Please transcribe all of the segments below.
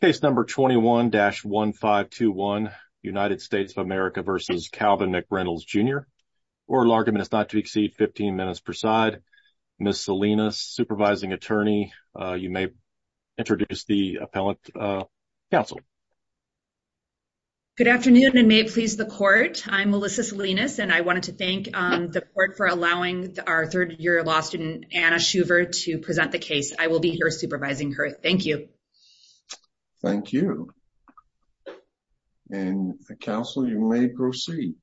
Case number 21-1521, United States of America v. Calvin McReynolds Jr. Oral argument is not to exceed 15 minutes per side. Ms. Salinas, supervising attorney, you may introduce the appellant counsel. Good afternoon and may it please the court. I'm Melissa Salinas and I wanted to thank the court for allowing our third-year law student Anna Shuver to present the case. I will be here supervising her. Thank you. Thank you and counsel you may proceed.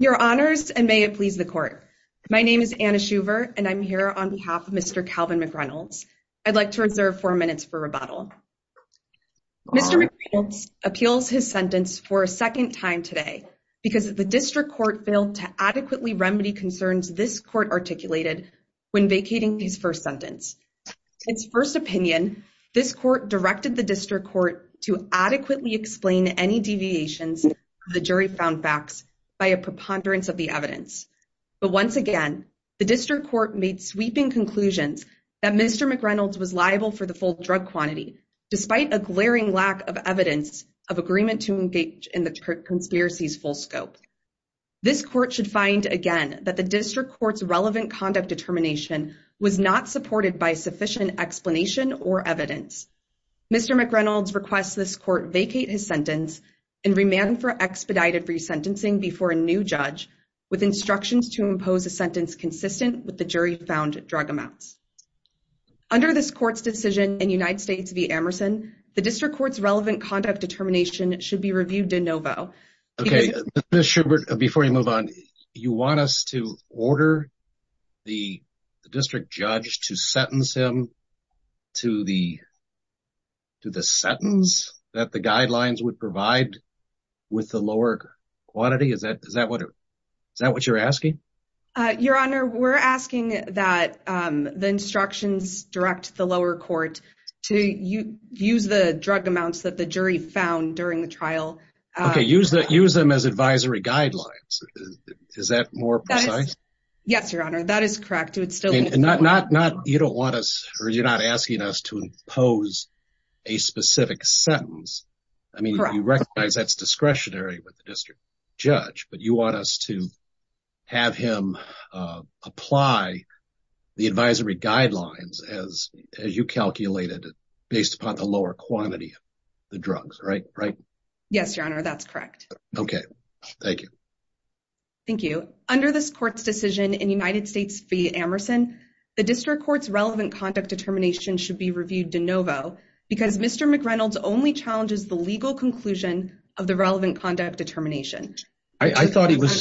Your honors and may it please the court. My name is Anna Shuver and I'm here on behalf of Mr. Calvin McReynolds. I'd like to reserve four minutes for rebuttal. Mr. McReynolds appeals his sentence for a second time today because the district court failed to adequately remedy concerns this court articulated when vacating his first sentence. In his first opinion, this court directed the district court to adequately explain any deviations the jury found facts by a preponderance of the evidence. But once again, the district court made sweeping conclusions that Mr. McReynolds was liable for the full drug quantity despite a glaring lack of evidence of agreement to engage in the conspiracy's full scope. This court should find again that the district court's relevant conduct determination was not supported by sufficient explanation or evidence. Mr. McReynolds requests this court vacate his sentence and remand for expedited resentencing before a new judge with instructions to impose a sentence consistent with the jury found drug amounts. Under this court's decision in United States v. Emerson, the district court's relevant conduct determination should be reviewed de novo. Okay, Ms. Schubert, before you move on, you want us to order the district judge to sentence him to the sentence that the guidelines would provide with the lower quantity? Is that what you're asking? Your Honor, we're asking that the instructions direct the lower court to use the drug amounts that the jury found during the trial. Okay, use them as advisory guidelines. Is that more precise? Yes, Your Honor, that is correct. You're not asking us to impose a specific sentence. I mean, you recognize that's discretionary with the district judge, but you want us to have him apply the advisory guidelines as you calculated based upon the lower quantity of the drugs, right? Yes, Your Honor, that's correct. Okay, thank you. Thank you. Under this court's decision in United States v. Emerson, the district court's relevant conduct determination should be reviewed de novo because Mr. McReynolds only challenges the legal conclusion of the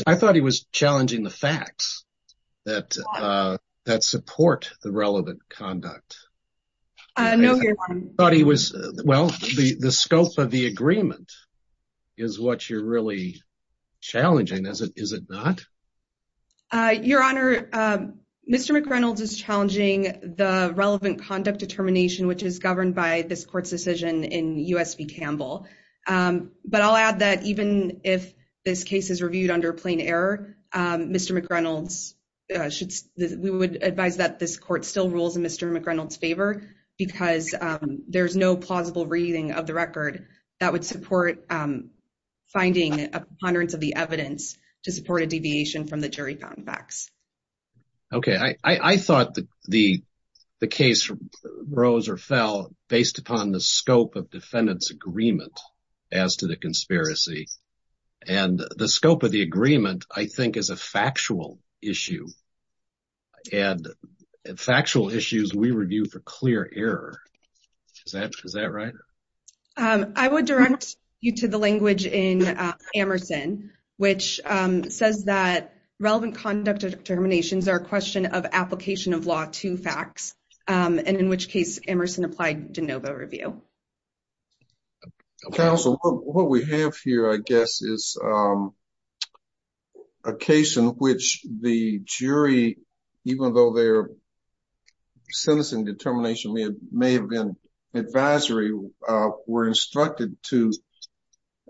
I thought he was challenging the facts that support the relevant conduct. No, Your Honor. Well, the scope of the agreement is what you're really challenging, is it not? Your Honor, Mr. McReynolds is challenging the relevant conduct determination, which is governed by this court's decision in U.S. v. Campbell. But I'll add that even if this case is reviewed under plain error, we would advise that this court still rules in Mr. McReynolds' favor because there's no plausible reading of the record that would support finding a preponderance of the evidence to support a deviation from the jury found facts. Okay, I thought the case rose or fell based upon the scope of defendant's agreement as to the conspiracy. And the scope of the agreement, I think, is a factual issue. And factual issues we review for clear error. Is that right? I would direct you to the language in Emerson, which says that relevant conduct determinations are a question of application of law to facts, and in which case Emerson applied de novo review. Counsel, what we have here, I guess, is a case in which the jury, even though their sentencing determination may have been advisory, were instructed to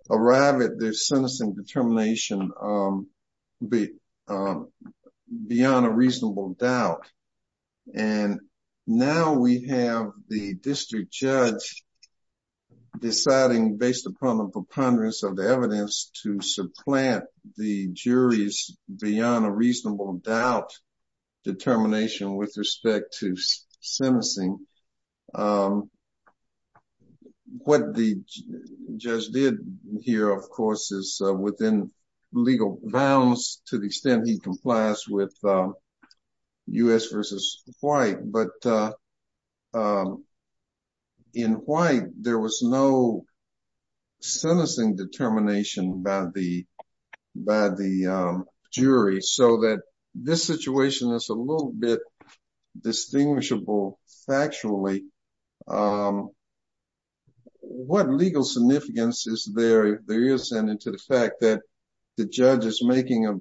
arrive at their sentencing determination beyond a reasonable doubt. And now we have the district judge deciding, based upon the preponderance of the evidence, to supplant the jury's beyond a reasonable doubt determination with respect to sentencing. What the judge did here, of course, is within legal bounds to the extent he complies with U.S. v. White. But in White, there was no sentencing determination by the jury, so that this situation is a little bit distinguishable factually. What legal significance is there in the fact that the judge is making a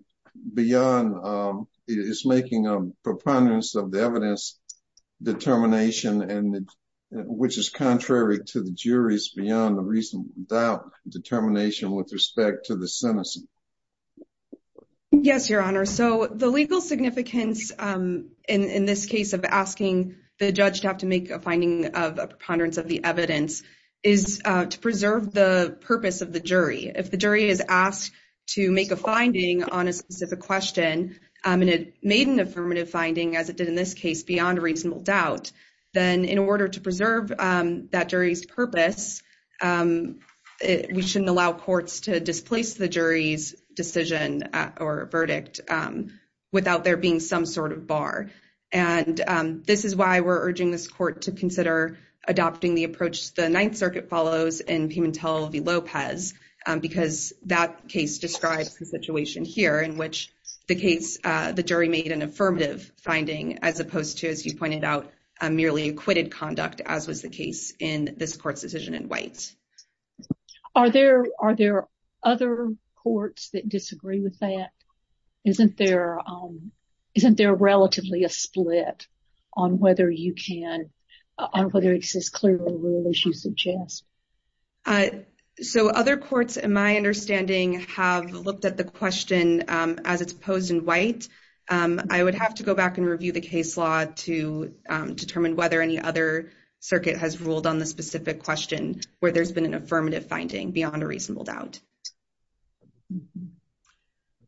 preponderance of the evidence determination, which is contrary to the jury's beyond a reasonable doubt determination with respect to the sentencing? Yes, Your Honor. So the legal significance in this case of asking the judge to have to make a finding of a preponderance of the evidence is to preserve the purpose of the jury. If the jury is asked to make a finding on a specific question, and it made an affirmative finding, as it did in this case, beyond a reasonable doubt, then in order to preserve that jury's purpose, we shouldn't allow courts to displace the jury's decision or verdict without there being some sort of bar. And this is why we're urging this court to consider adopting the approach the Ninth Circuit follows in Pimentel v. Lopez, because that case describes the situation here in which the case, the jury made an affirmative finding, as opposed to, as you pointed out, a merely acquitted conduct, as was the case in this court's decision in White. Are there other courts that disagree with that? Isn't there relatively a split on whether you can, on whether it's as clear a rule as you suggest? Uh, so other courts, in my understanding, have looked at the question, um, as it's posed in White. Um, I would have to go back and review the case law to, um, determine whether any other circuit has ruled on the specific question where there's been an affirmative finding beyond a reasonable doubt.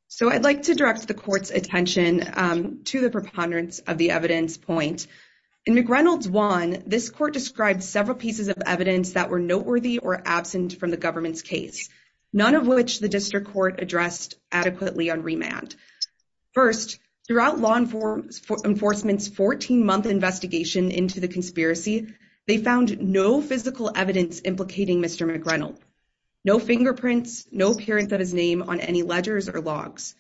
So I'd like to direct the court's attention, um, to the preponderance of the evidence point. In McReynolds 1, this court described several pieces of evidence that were noteworthy or absent from the government's case, none of which the district court addressed adequately on remand. First, throughout law enforcement's 14-month investigation into the conspiracy, they found no physical evidence implicating Mr. McReynolds. No fingerprints, no appearance of his name on any ledgers or logs.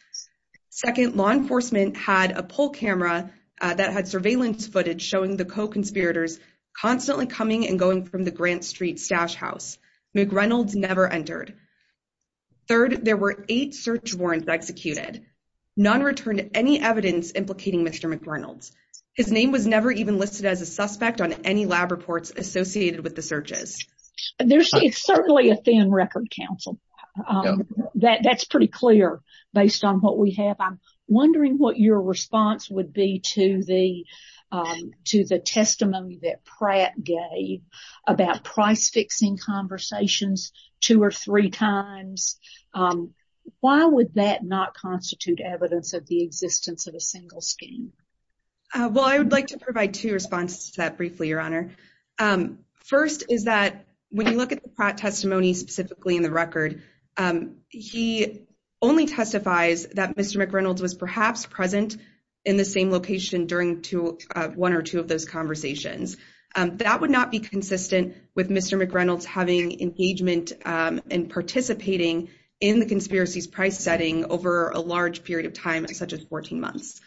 Second, law enforcement had a poll camera that had surveillance footage showing the co-conspirators constantly coming and going from the Grant Street stash house. McReynolds never entered. Third, there were eight search warrants executed. None returned any evidence implicating Mr. McReynolds. His name was never even listed as a suspect on any lab reports associated with the searches. There's certainly a thin record, counsel. Um, that's pretty clear based on what we have. I'm wondering what your about price fixing conversations two or three times. Um, why would that not constitute evidence of the existence of a single scheme? Uh, well, I would like to provide two responses to that briefly, Your Honor. Um, first is that when you look at the Pratt testimony specifically in the record, um, he only testifies that Mr. McReynolds was perhaps present in the same location during one or two of those conversations. Um, that would not be consistent with Mr. McReynolds having engagement, um, and participating in the conspiracies price setting over a large period of time, such as 14 months.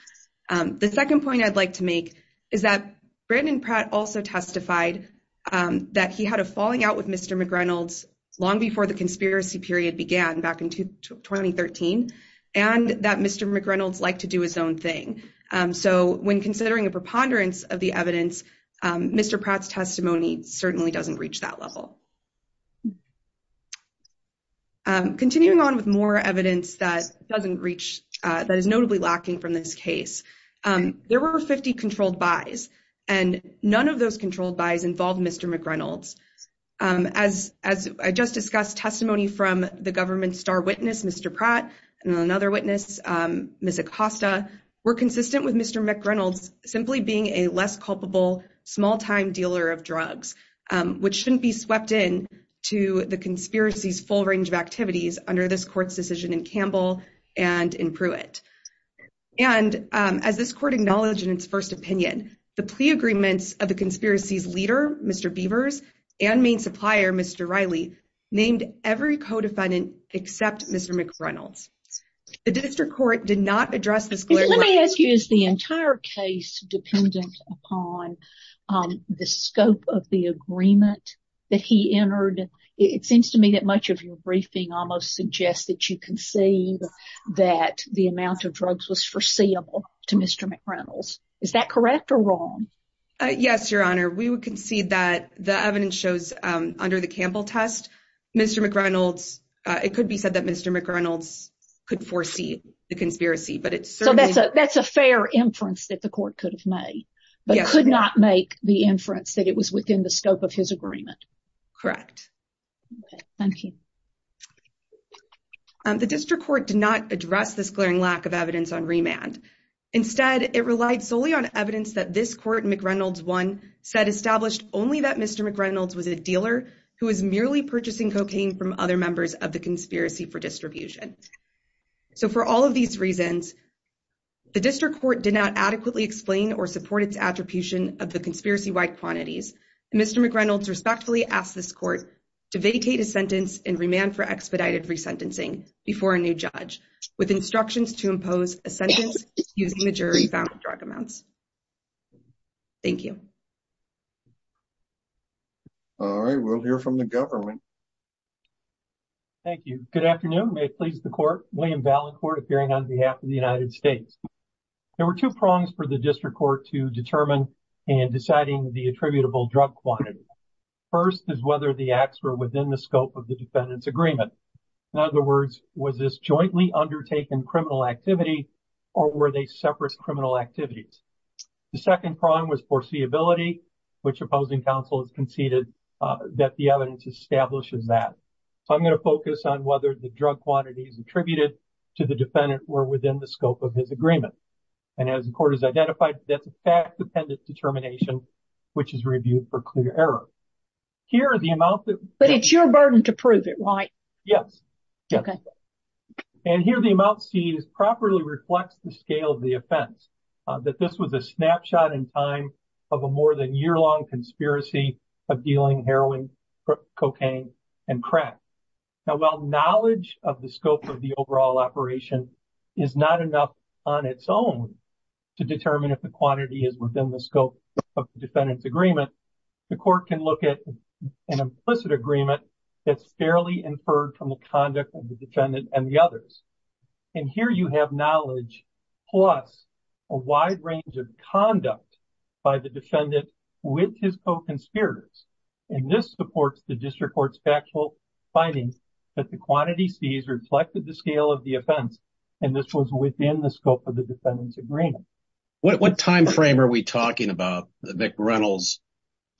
Um, the second point I'd like to make is that Brandon Pratt also testified, um, that he had a falling out with Mr. McReynolds long before the conspiracy period began back in 2013, and that Mr. McReynolds liked to do his own thing. Um, so when considering a preponderance of the evidence, um, Mr. Pratt's testimony certainly doesn't reach that level. Um, continuing on with more evidence that doesn't reach, uh, that is notably lacking from this case, um, there were 50 controlled buys, and none of those controlled buys involved Mr. McReynolds. Um, as, as I just discussed testimony from the government star witness, Mr. Pratt, and another witness, um, Ms. Acosta, were consistent with Mr. McReynolds simply being a less culpable small-time dealer of drugs, um, which shouldn't be swept in to the conspiracy's full range of activities under this court's decision in Campbell and in Pruitt. And, um, as this court acknowledged in its first opinion, the plea agreements of the conspiracy's leader, Mr. Beavers, and main supplier, Mr. Riley, named every co-defendant except Mr. McReynolds. The district court did not address this. Let me ask you, is the entire case dependent upon, um, the scope of the agreement that he entered? It seems to me that much of your briefing almost suggests that you concede that the amount of drugs was foreseeable to Mr. McReynolds. Is that correct or wrong? Uh, yes, your honor. We would concede that the evidence shows, um, under the Campbell test, Mr. McReynolds, uh, it could be said that Mr. McReynolds could foresee the conspiracy, but it's certainly... So that's a, that's a fair inference that the court could have made, but could not make the inference that it was within the scope of his agreement. Correct. Okay, thank you. Um, the district court did not address this glaring lack of evidence on remand. Instead, it relied solely on evidence that this court, McReynolds one, said established only that Mr. McReynolds was a dealer who was merely purchasing cocaine from other members of the conspiracy for distribution. So for all of these reasons, the district court did not adequately explain or support its attribution of the conspiracy-wide quantities. Mr. McReynolds respectfully asked this court to vacate his sentence and remand for to impose a sentence using the jury found drug amounts. Thank you. All right, we'll hear from the government. Thank you. Good afternoon. May it please the court. William Ballincourt appearing on behalf of the United States. There were two prongs for the district court to determine and deciding the attributable drug quantity. First is whether the acts were within the scope of the defendant's agreement. In other words, was this jointly undertaken criminal activity or were they separate criminal activities? The second prong was foreseeability, which opposing counsel has conceded that the evidence establishes that. So I'm going to focus on whether the drug quantities attributed to the defendant were within the scope of his agreement. And as the court has identified, that's a fact-dependent determination, which is reviewed for clear error. Here are the amount that... But it's your burden to prove it, right? Yes. And here the amount seen is properly reflects the scale of the offense, that this was a snapshot in time of a more than year-long conspiracy of dealing heroin, cocaine, and crack. Now, while knowledge of the scope of the overall operation is not enough on its own to determine if the quantity is within the scope of the defendant's agreement, the court can look at an implicit agreement that's fairly inferred from the conduct of the defendant and the others. And here you have knowledge plus a wide range of conduct by the defendant with his co-conspirators. And this supports the district court's factual findings that the quantity C's reflected the scale of the offense, and this was within the scope of defendant's agreement. What time frame are we talking about that McReynolds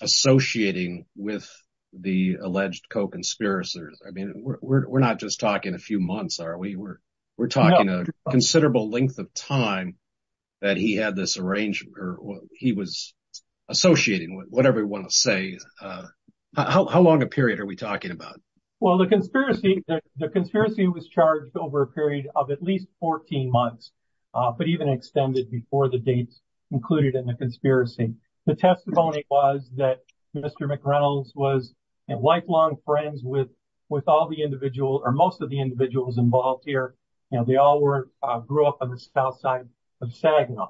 associating with the alleged co-conspirators? I mean, we're not just talking a few months, are we? We're talking a considerable length of time that he had this arrangement, or he was associating with whatever we want to say. How long a period are we talking about? Well, the conspiracy was charged over a extended period before the dates included in the conspiracy. The testimony was that Mr. McReynolds was lifelong friends with all the individuals, or most of the individuals involved here. You know, they all grew up on the south side of Saginaw.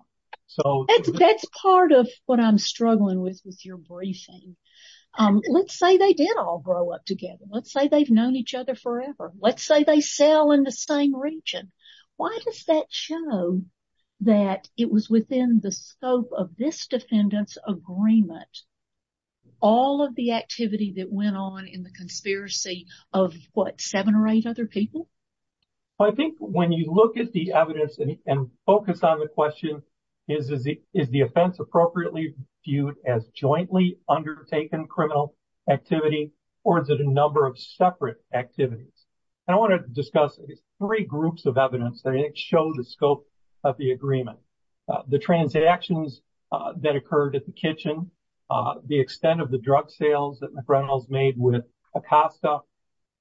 That's part of what I'm struggling with with your briefing. Let's say they did all grow up together. Let's say they've known each other Why does that show that it was within the scope of this defendant's agreement? All of the activity that went on in the conspiracy of what, seven or eight other people? Well, I think when you look at the evidence and focus on the question, is the offense appropriately viewed as jointly undertaken criminal activity, or is it a number of separate activities? And I want to discuss three groups of evidence that show the scope of the agreement. The transactions that occurred at the kitchen, the extent of the drug sales that McReynolds made with Acosta,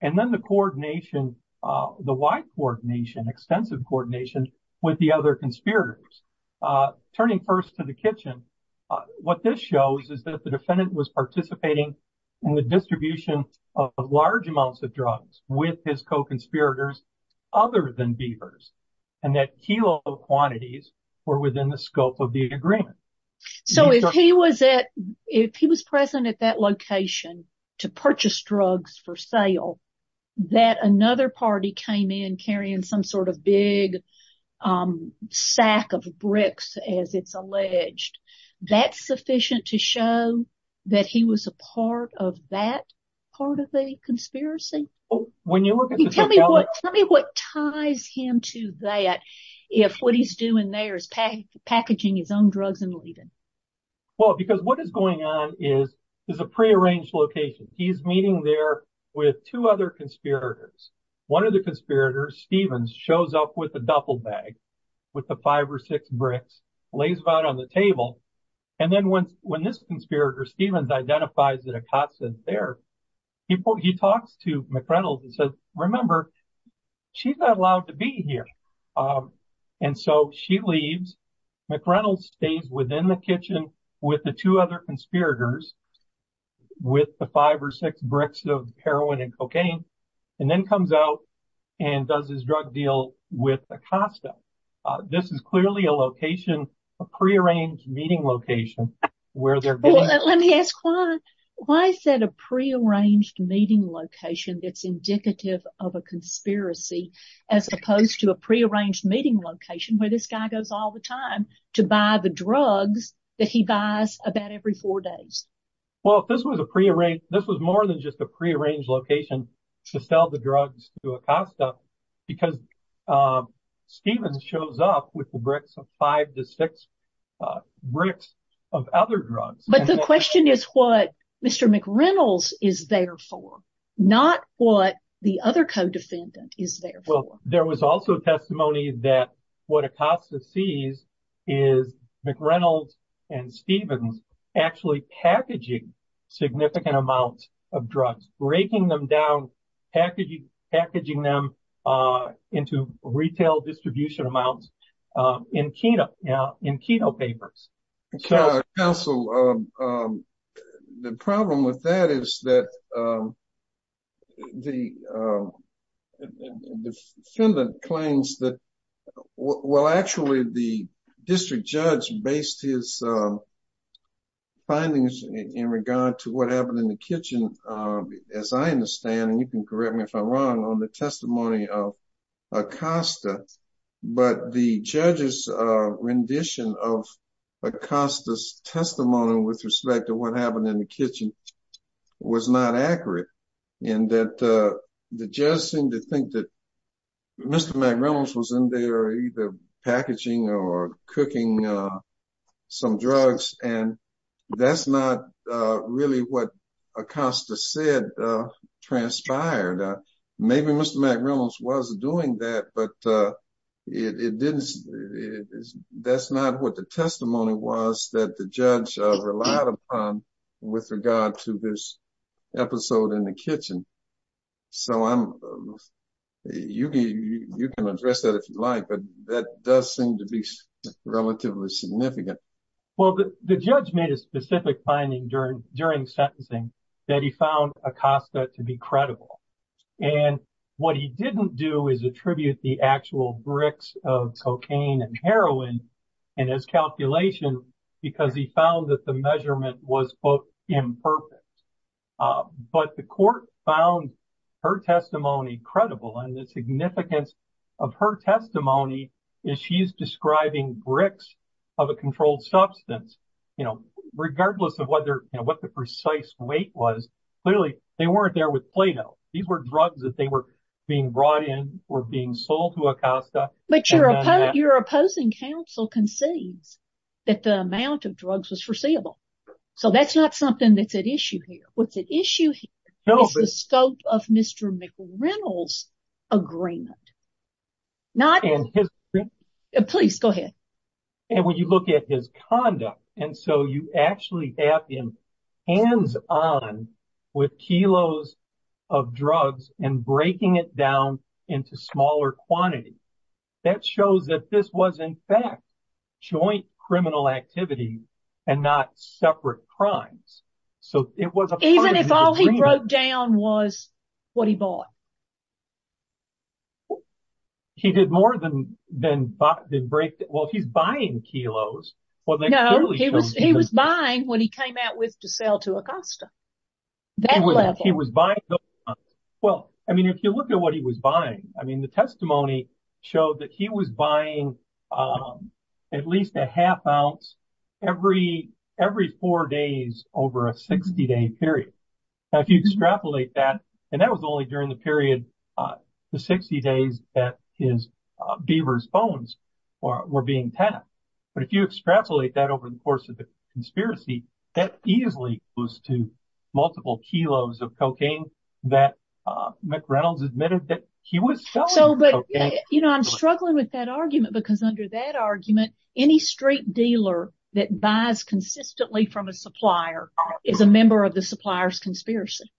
and then the coordination, the wide coordination, extensive coordination with the other conspirators. Turning first to the kitchen, what this shows is that the defendant was his co-conspirators other than Beavers, and that kilo quantities were within the scope of the agreement. So if he was at, if he was present at that location to purchase drugs for sale, that another party came in carrying some sort of big sack of bricks, as it's alleged, that's sufficient to show that he was a part of that part of the conspiracy? Tell me what ties him to that, if what he's doing there is packaging his own drugs and leaving. Well, because what is going on is, is a pre-arranged location. He's meeting there with two other conspirators. One of the conspirators, Stevens, shows up with a duffel bag with the five or six bricks, lays it out on the table. And then when this conspirator, Stevens, identifies that Acosta is there, he talks to McReynolds and says, remember, she's not allowed to be here. And so she leaves. McReynolds stays within the kitchen with the two other conspirators, with the five or six bricks of heroin and cocaine, and then comes out and does his drug deal with Acosta. This is clearly a location, a pre-arranged meeting location where they're going. Let me ask, why is that a pre-arranged meeting location that's indicative of a conspiracy, as opposed to a pre-arranged meeting location where this guy goes all the time to buy the drugs that he buys about every four days? Well, this was a pre-arranged, this was more than just a pre-arranged location to sell the drugs to Acosta, because Stevens shows up with the bricks of five to six bricks of other drugs. But the question is what Mr. McReynolds is there for, not what the other co-defendant is there for. There was also testimony that what Acosta sees is McReynolds and Stevens actually packaging significant amounts of drugs, breaking them down, packaging them into retail distribution amounts in keto papers. Counsel, the problem with that is that the defendant claims that, well, actually, the district judge based his findings in regard to what happened in the kitchen, as I understand, and you can correct me if I'm wrong, on the testimony of Acosta. But the judge's rendition of Acosta's testimony with respect to what happened in the kitchen was not accurate, in that the judge seemed to think that Mr. McReynolds was in there either packaging or cooking some drugs, and that's not really what Acosta said transpired. Maybe Mr. McReynolds was doing that, but that's not what the testimony was that the judge relied upon with regard to this episode in the kitchen. So you can address that if you like, but that does seem to be relatively significant. Well, the judge made a specific finding during sentencing that he found Acosta to be credible. And what he didn't do is attribute the actual bricks of cocaine and heroin in his calculation because he found that the measurement was, quote, imperfect. But the court found her testimony credible, and the significance of her testimony is she's describing bricks of a controlled substance, regardless of what the precise weight was. Clearly, they weren't there with Play-Doh. These were drugs that they were being brought in or being sold to Acosta. But your opposing counsel concedes that the amount of drugs was foreseeable. So that's not something that's at issue here. What's at issue here is the scope of Mr. McReynolds' agreement. Please, go ahead. And when you look at his conduct, and so you actually have him hands-on with kilos of drugs and breaking it down into smaller quantities, that shows that this was, in fact, joint criminal activity and not separate crimes. So it was a part of his agreement. Even if all he broke down was what he bought? He did more than break. Well, he's buying kilos. No, he was buying what he came out with to sell to Acosta, that level. He was buying those amounts. Well, I mean, if you look at what he was buying, I mean, the testimony showed that he was buying at least a half ounce every four days over a 60-day period. Now, if you extrapolate that, and that was only during the period, the 60 days that his beaver's bones were being tapped. But if you extrapolate that over the course of the conspiracy, that easily goes to multiple kilos of cocaine that McReynolds admitted that he was selling. So, but, you know, I'm struggling with that argument because under that argument, any street dealer that buys consistently from a supplier is a member of the supplier's conspiracy.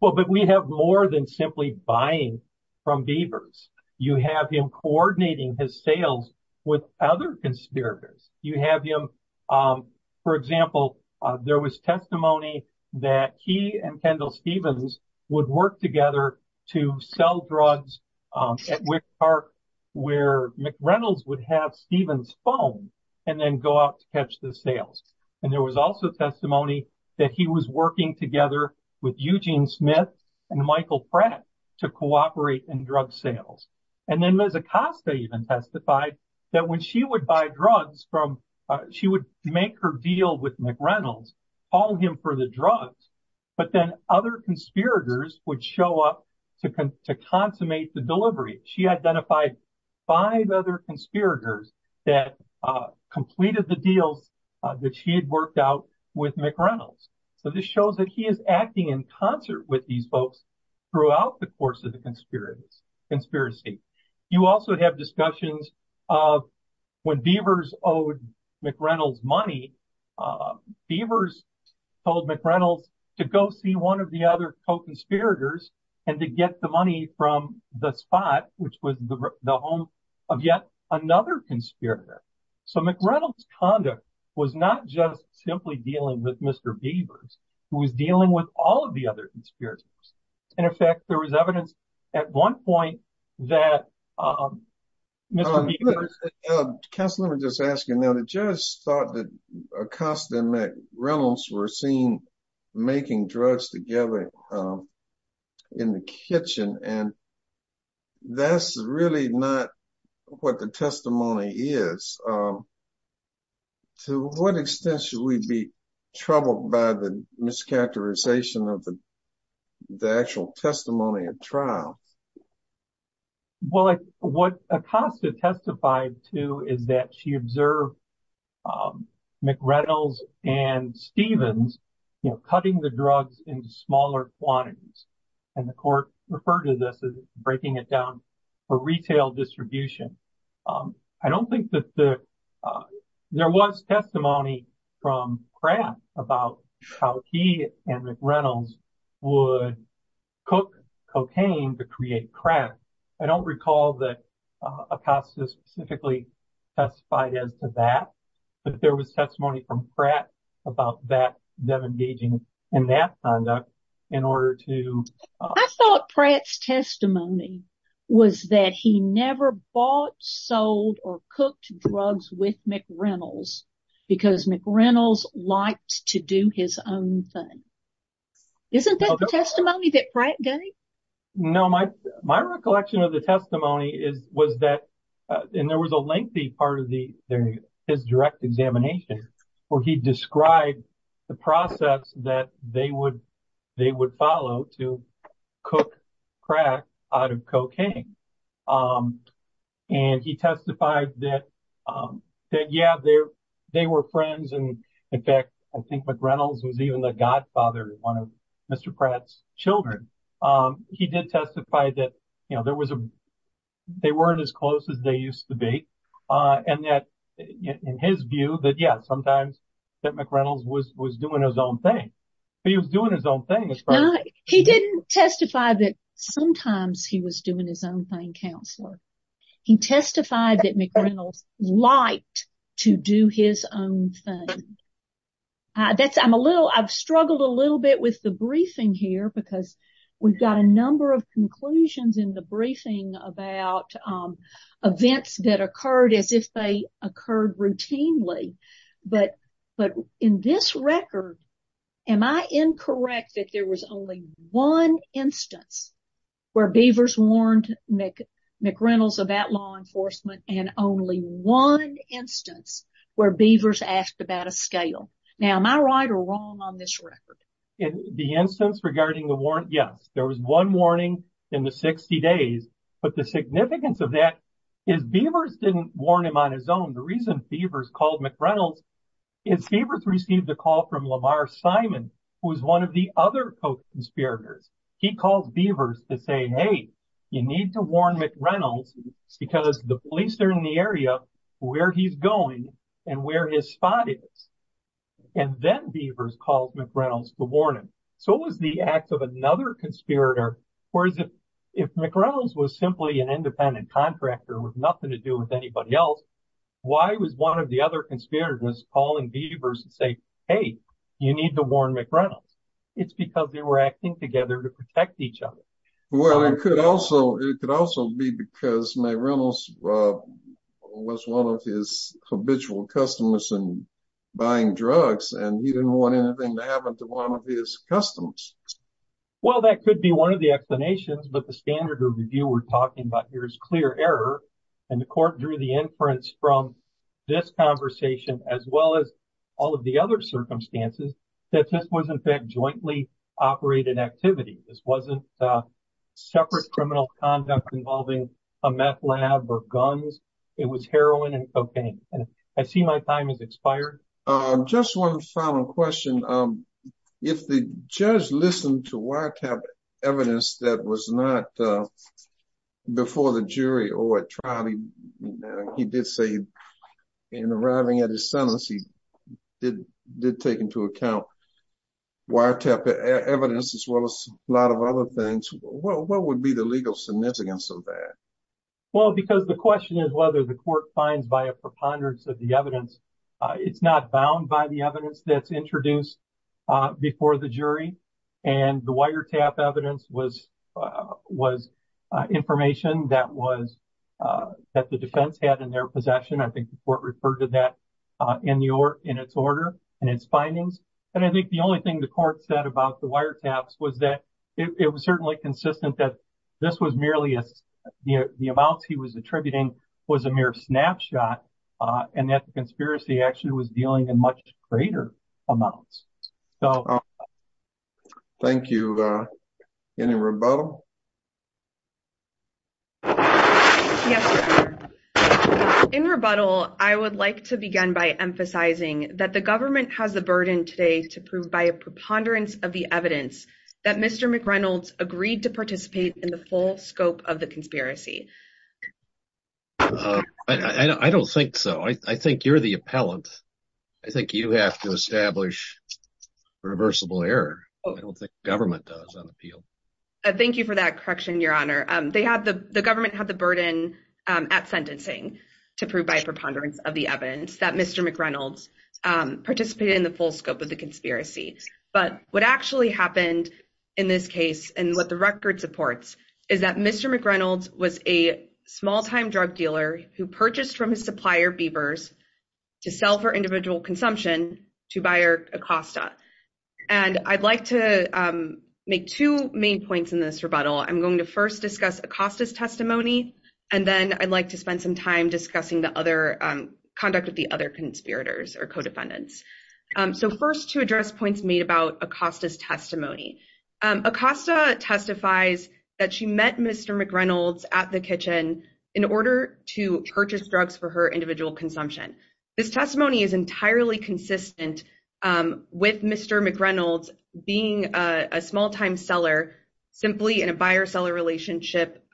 Well, but we have more than simply buying from beavers. You have him coordinating his sales with other conspirators. You have him, for example, there was testimony that he and Kendall phone and then go out to catch the sales. And there was also testimony that he was working together with Eugene Smith and Michael Pratt to cooperate in drug sales. And then Ms. Acosta even testified that when she would buy drugs from, she would make her deal with McReynolds, call him for the drugs, but then other conspirators would show up to consummate the delivery. She identified five other conspirators that completed the deals that she had worked out with McReynolds. So this shows that he is acting in concert with these folks throughout the course of the conspiracy. You also have discussions of when beavers owed McReynolds money, beavers told McReynolds to go one of the other co-conspirators and to get the money from the spot, which was the home of yet another conspirator. So McReynolds' conduct was not just simply dealing with Mr. Beavers, who was dealing with all of the other conspirators. And in fact, there was evidence at one point that Mr. Beavers... Counselor, let me just ask you now, the judge thought that Acosta and McReynolds were seen making drugs together in the kitchen, and that's really not what the testimony is. To what extent should we be troubled by the mischaracterization of the actual testimony at trial? Well, what Acosta testified to is that she observed McReynolds and Stevens cutting the drugs into smaller quantities. And the court referred to this as breaking it down for retail distribution. I don't think that there was testimony from Crabb about how he and McReynolds would cook cocaine to create crap. I don't recall that Acosta specifically testified as to that, but there was testimony from Pratt about them engaging in that conduct in order to... I thought Pratt's testimony was that he never bought, sold, or cooked drugs with McReynolds because McReynolds liked to do his own thing. Isn't that the testimony that Pratt gave? No, my recollection of the testimony was that, and there was a lengthy part of his direct examination where he described the process that they would follow to cook crack out of cocaine. And he testified that, yeah, they were friends. And in fact, I think McReynolds was even the godfather of one of Mr. Pratt's children. He did testify that they weren't as close as they used to be. And that in his view that, yeah, sometimes that McReynolds was doing his own thing. But he didn't testify that sometimes he was doing his own thing, counselor. He testified that McReynolds liked to do his own thing. I've struggled a little bit with the briefing here because we've got a number of conclusions in the briefing about events that occurred as if they occurred routinely. But in this record, am I incorrect that there was only one instance where Beavers warned McReynolds about law enforcement and only one instance where Beavers asked about a scale? Now, am I right or wrong on this record? In the instance regarding the warrant, yes, there was one warning in the 60 days. But the significance of that is Beavers didn't warn him on his own. The reason Beavers called McReynolds is Beavers received a call from Lamar Simon, who was one of the other co-conspirators. He called Beavers to say, hey, you need to warn McReynolds because the police are in the area where he's going and where his spot is. And then Beavers called McReynolds to warn him. So was the act of another conspirator. Whereas if McReynolds was simply an independent contractor with nothing to do with anybody else, why was one of the other conspirators calling Beavers to say, hey, you need to warn McReynolds? It's because they were acting together to protect each other. Well, it could also be because McReynolds was one of his habitual customers in buying drugs, and he didn't want anything to happen to one of his customers. Well, that could be one of the explanations. But the standard of review we're talking about here is clear error. And the court drew the inference from this conversation, as well as all of the other circumstances, that this was, in fact, jointly operated activity. This wasn't separate criminal conduct involving a meth lab or guns. It was heroin and cocaine. And I see my time has wired up evidence that was not before the jury or at trial. He did say in arriving at his sentence, he did take into account wiretap evidence, as well as a lot of other things. What would be the legal significance of that? Well, because the question is whether the court finds by a preponderance of the evidence, it's not bound by the evidence that's introduced before the jury. And the wiretap evidence was information that the defense had in their possession. I think the court referred to that in its order and its findings. And I think the only thing the court said about the wiretaps was that it was certainly consistent that this was merely the amounts he was attributing was a mere snapshot, and that the conspiracy actually was dealing in much greater amounts. Thank you. Any rebuttal? In rebuttal, I would like to begin by emphasizing that the government has the burden today to prove by a preponderance of the evidence that Mr. McReynolds agreed to participate in the full I think you have to establish reversible error. I don't think the government does on the field. Thank you for that correction, Your Honor. The government had the burden at sentencing to prove by a preponderance of the evidence that Mr. McReynolds participated in the full scope of the conspiracy. But what actually happened in this case, and what the record supports, is that Mr. McReynolds was a small-time drug dealer who purchased from his supplier, Bieber's, to sell for individual consumption to buyer Acosta. And I'd like to make two main points in this rebuttal. I'm going to first discuss Acosta's testimony, and then I'd like to spend some time discussing the other conduct with the other conspirators or co-defendants. So first, to address points made about Acosta's testimony. Acosta testifies that she met Mr. McReynolds at the kitchen in order to purchase drugs for her individual consumption. This testimony is entirely consistent with Mr. McReynolds being a small-time seller simply in a buyer-seller relationship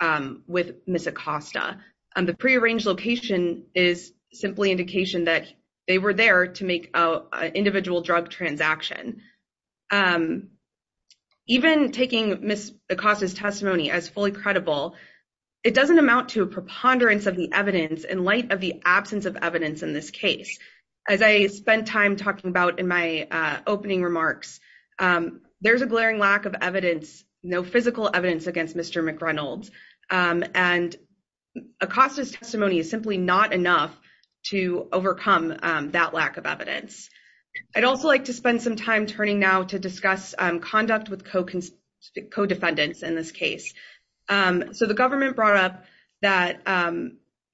with Ms. Acosta. The prearranged location is simply indication that they were there to make an individual drug transaction. Even taking Ms. Acosta's testimony as fully credible, it doesn't amount to a preponderance of the evidence in light of the absence of evidence in this case. As I spent time talking about in my opening remarks, there's a glaring lack of evidence, no physical evidence, against Mr. McReynolds. And Acosta's testimony is simply not enough to overcome that lack of evidence. I'd also like to so the government brought up that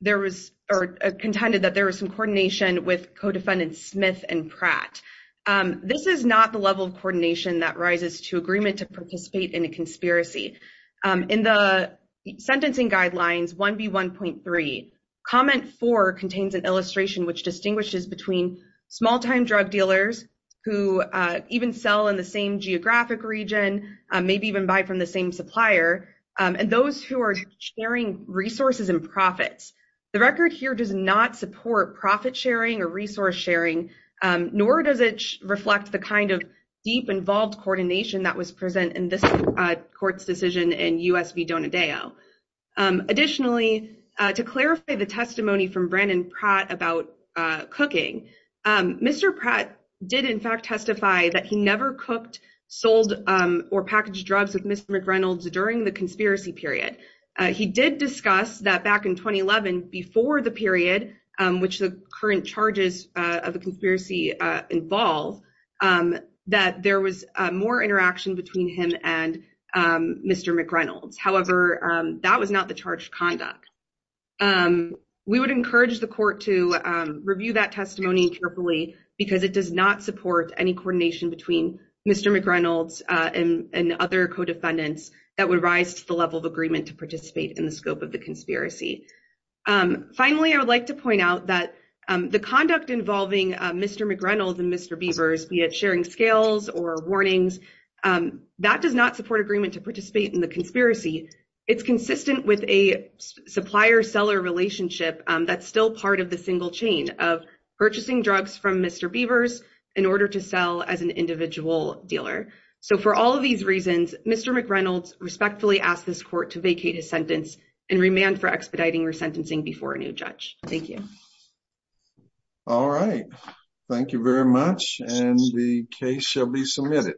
there was or contended that there was some coordination with co-defendants Smith and Pratt. This is not the level of coordination that rises to agreement to participate in a conspiracy. In the Sentencing Guidelines 1B1.3, Comment 4 contains an illustration which distinguishes between small-time drug dealers who even sell in the same and those who are sharing resources and profits. The record here does not support profit-sharing or resource-sharing, nor does it reflect the kind of deep, involved coordination that was present in this court's decision in U.S. v. Donadeo. Additionally, to clarify the testimony from Brandon Pratt about cooking, Mr. Pratt did in fact testify that he never cooked, sold, or packaged drugs with Mr. McReynolds during the conspiracy period. He did discuss that back in 2011, before the period which the current charges of the conspiracy involve, that there was more interaction between him and Mr. McReynolds. However, that was not the charged conduct. We would encourage the court to review that testimony carefully because it does not support any coordination between Mr. McReynolds and other co-defendants that would rise to the level of agreement to participate in the scope of the conspiracy. Finally, I would like to point out that the conduct involving Mr. McReynolds and Mr. Beavers, be it sharing scales or warnings, that does not support agreement to participate in the conspiracy. It's consistent with a supplier-seller relationship that's still part of the single chain of purchasing drugs from Mr. Beavers in order to individual dealer. So for all of these reasons, Mr. McReynolds respectfully asks this court to vacate his sentence and remand for expediting resentencing before a new judge. Thank you. All right, thank you very much and the case shall be submitted.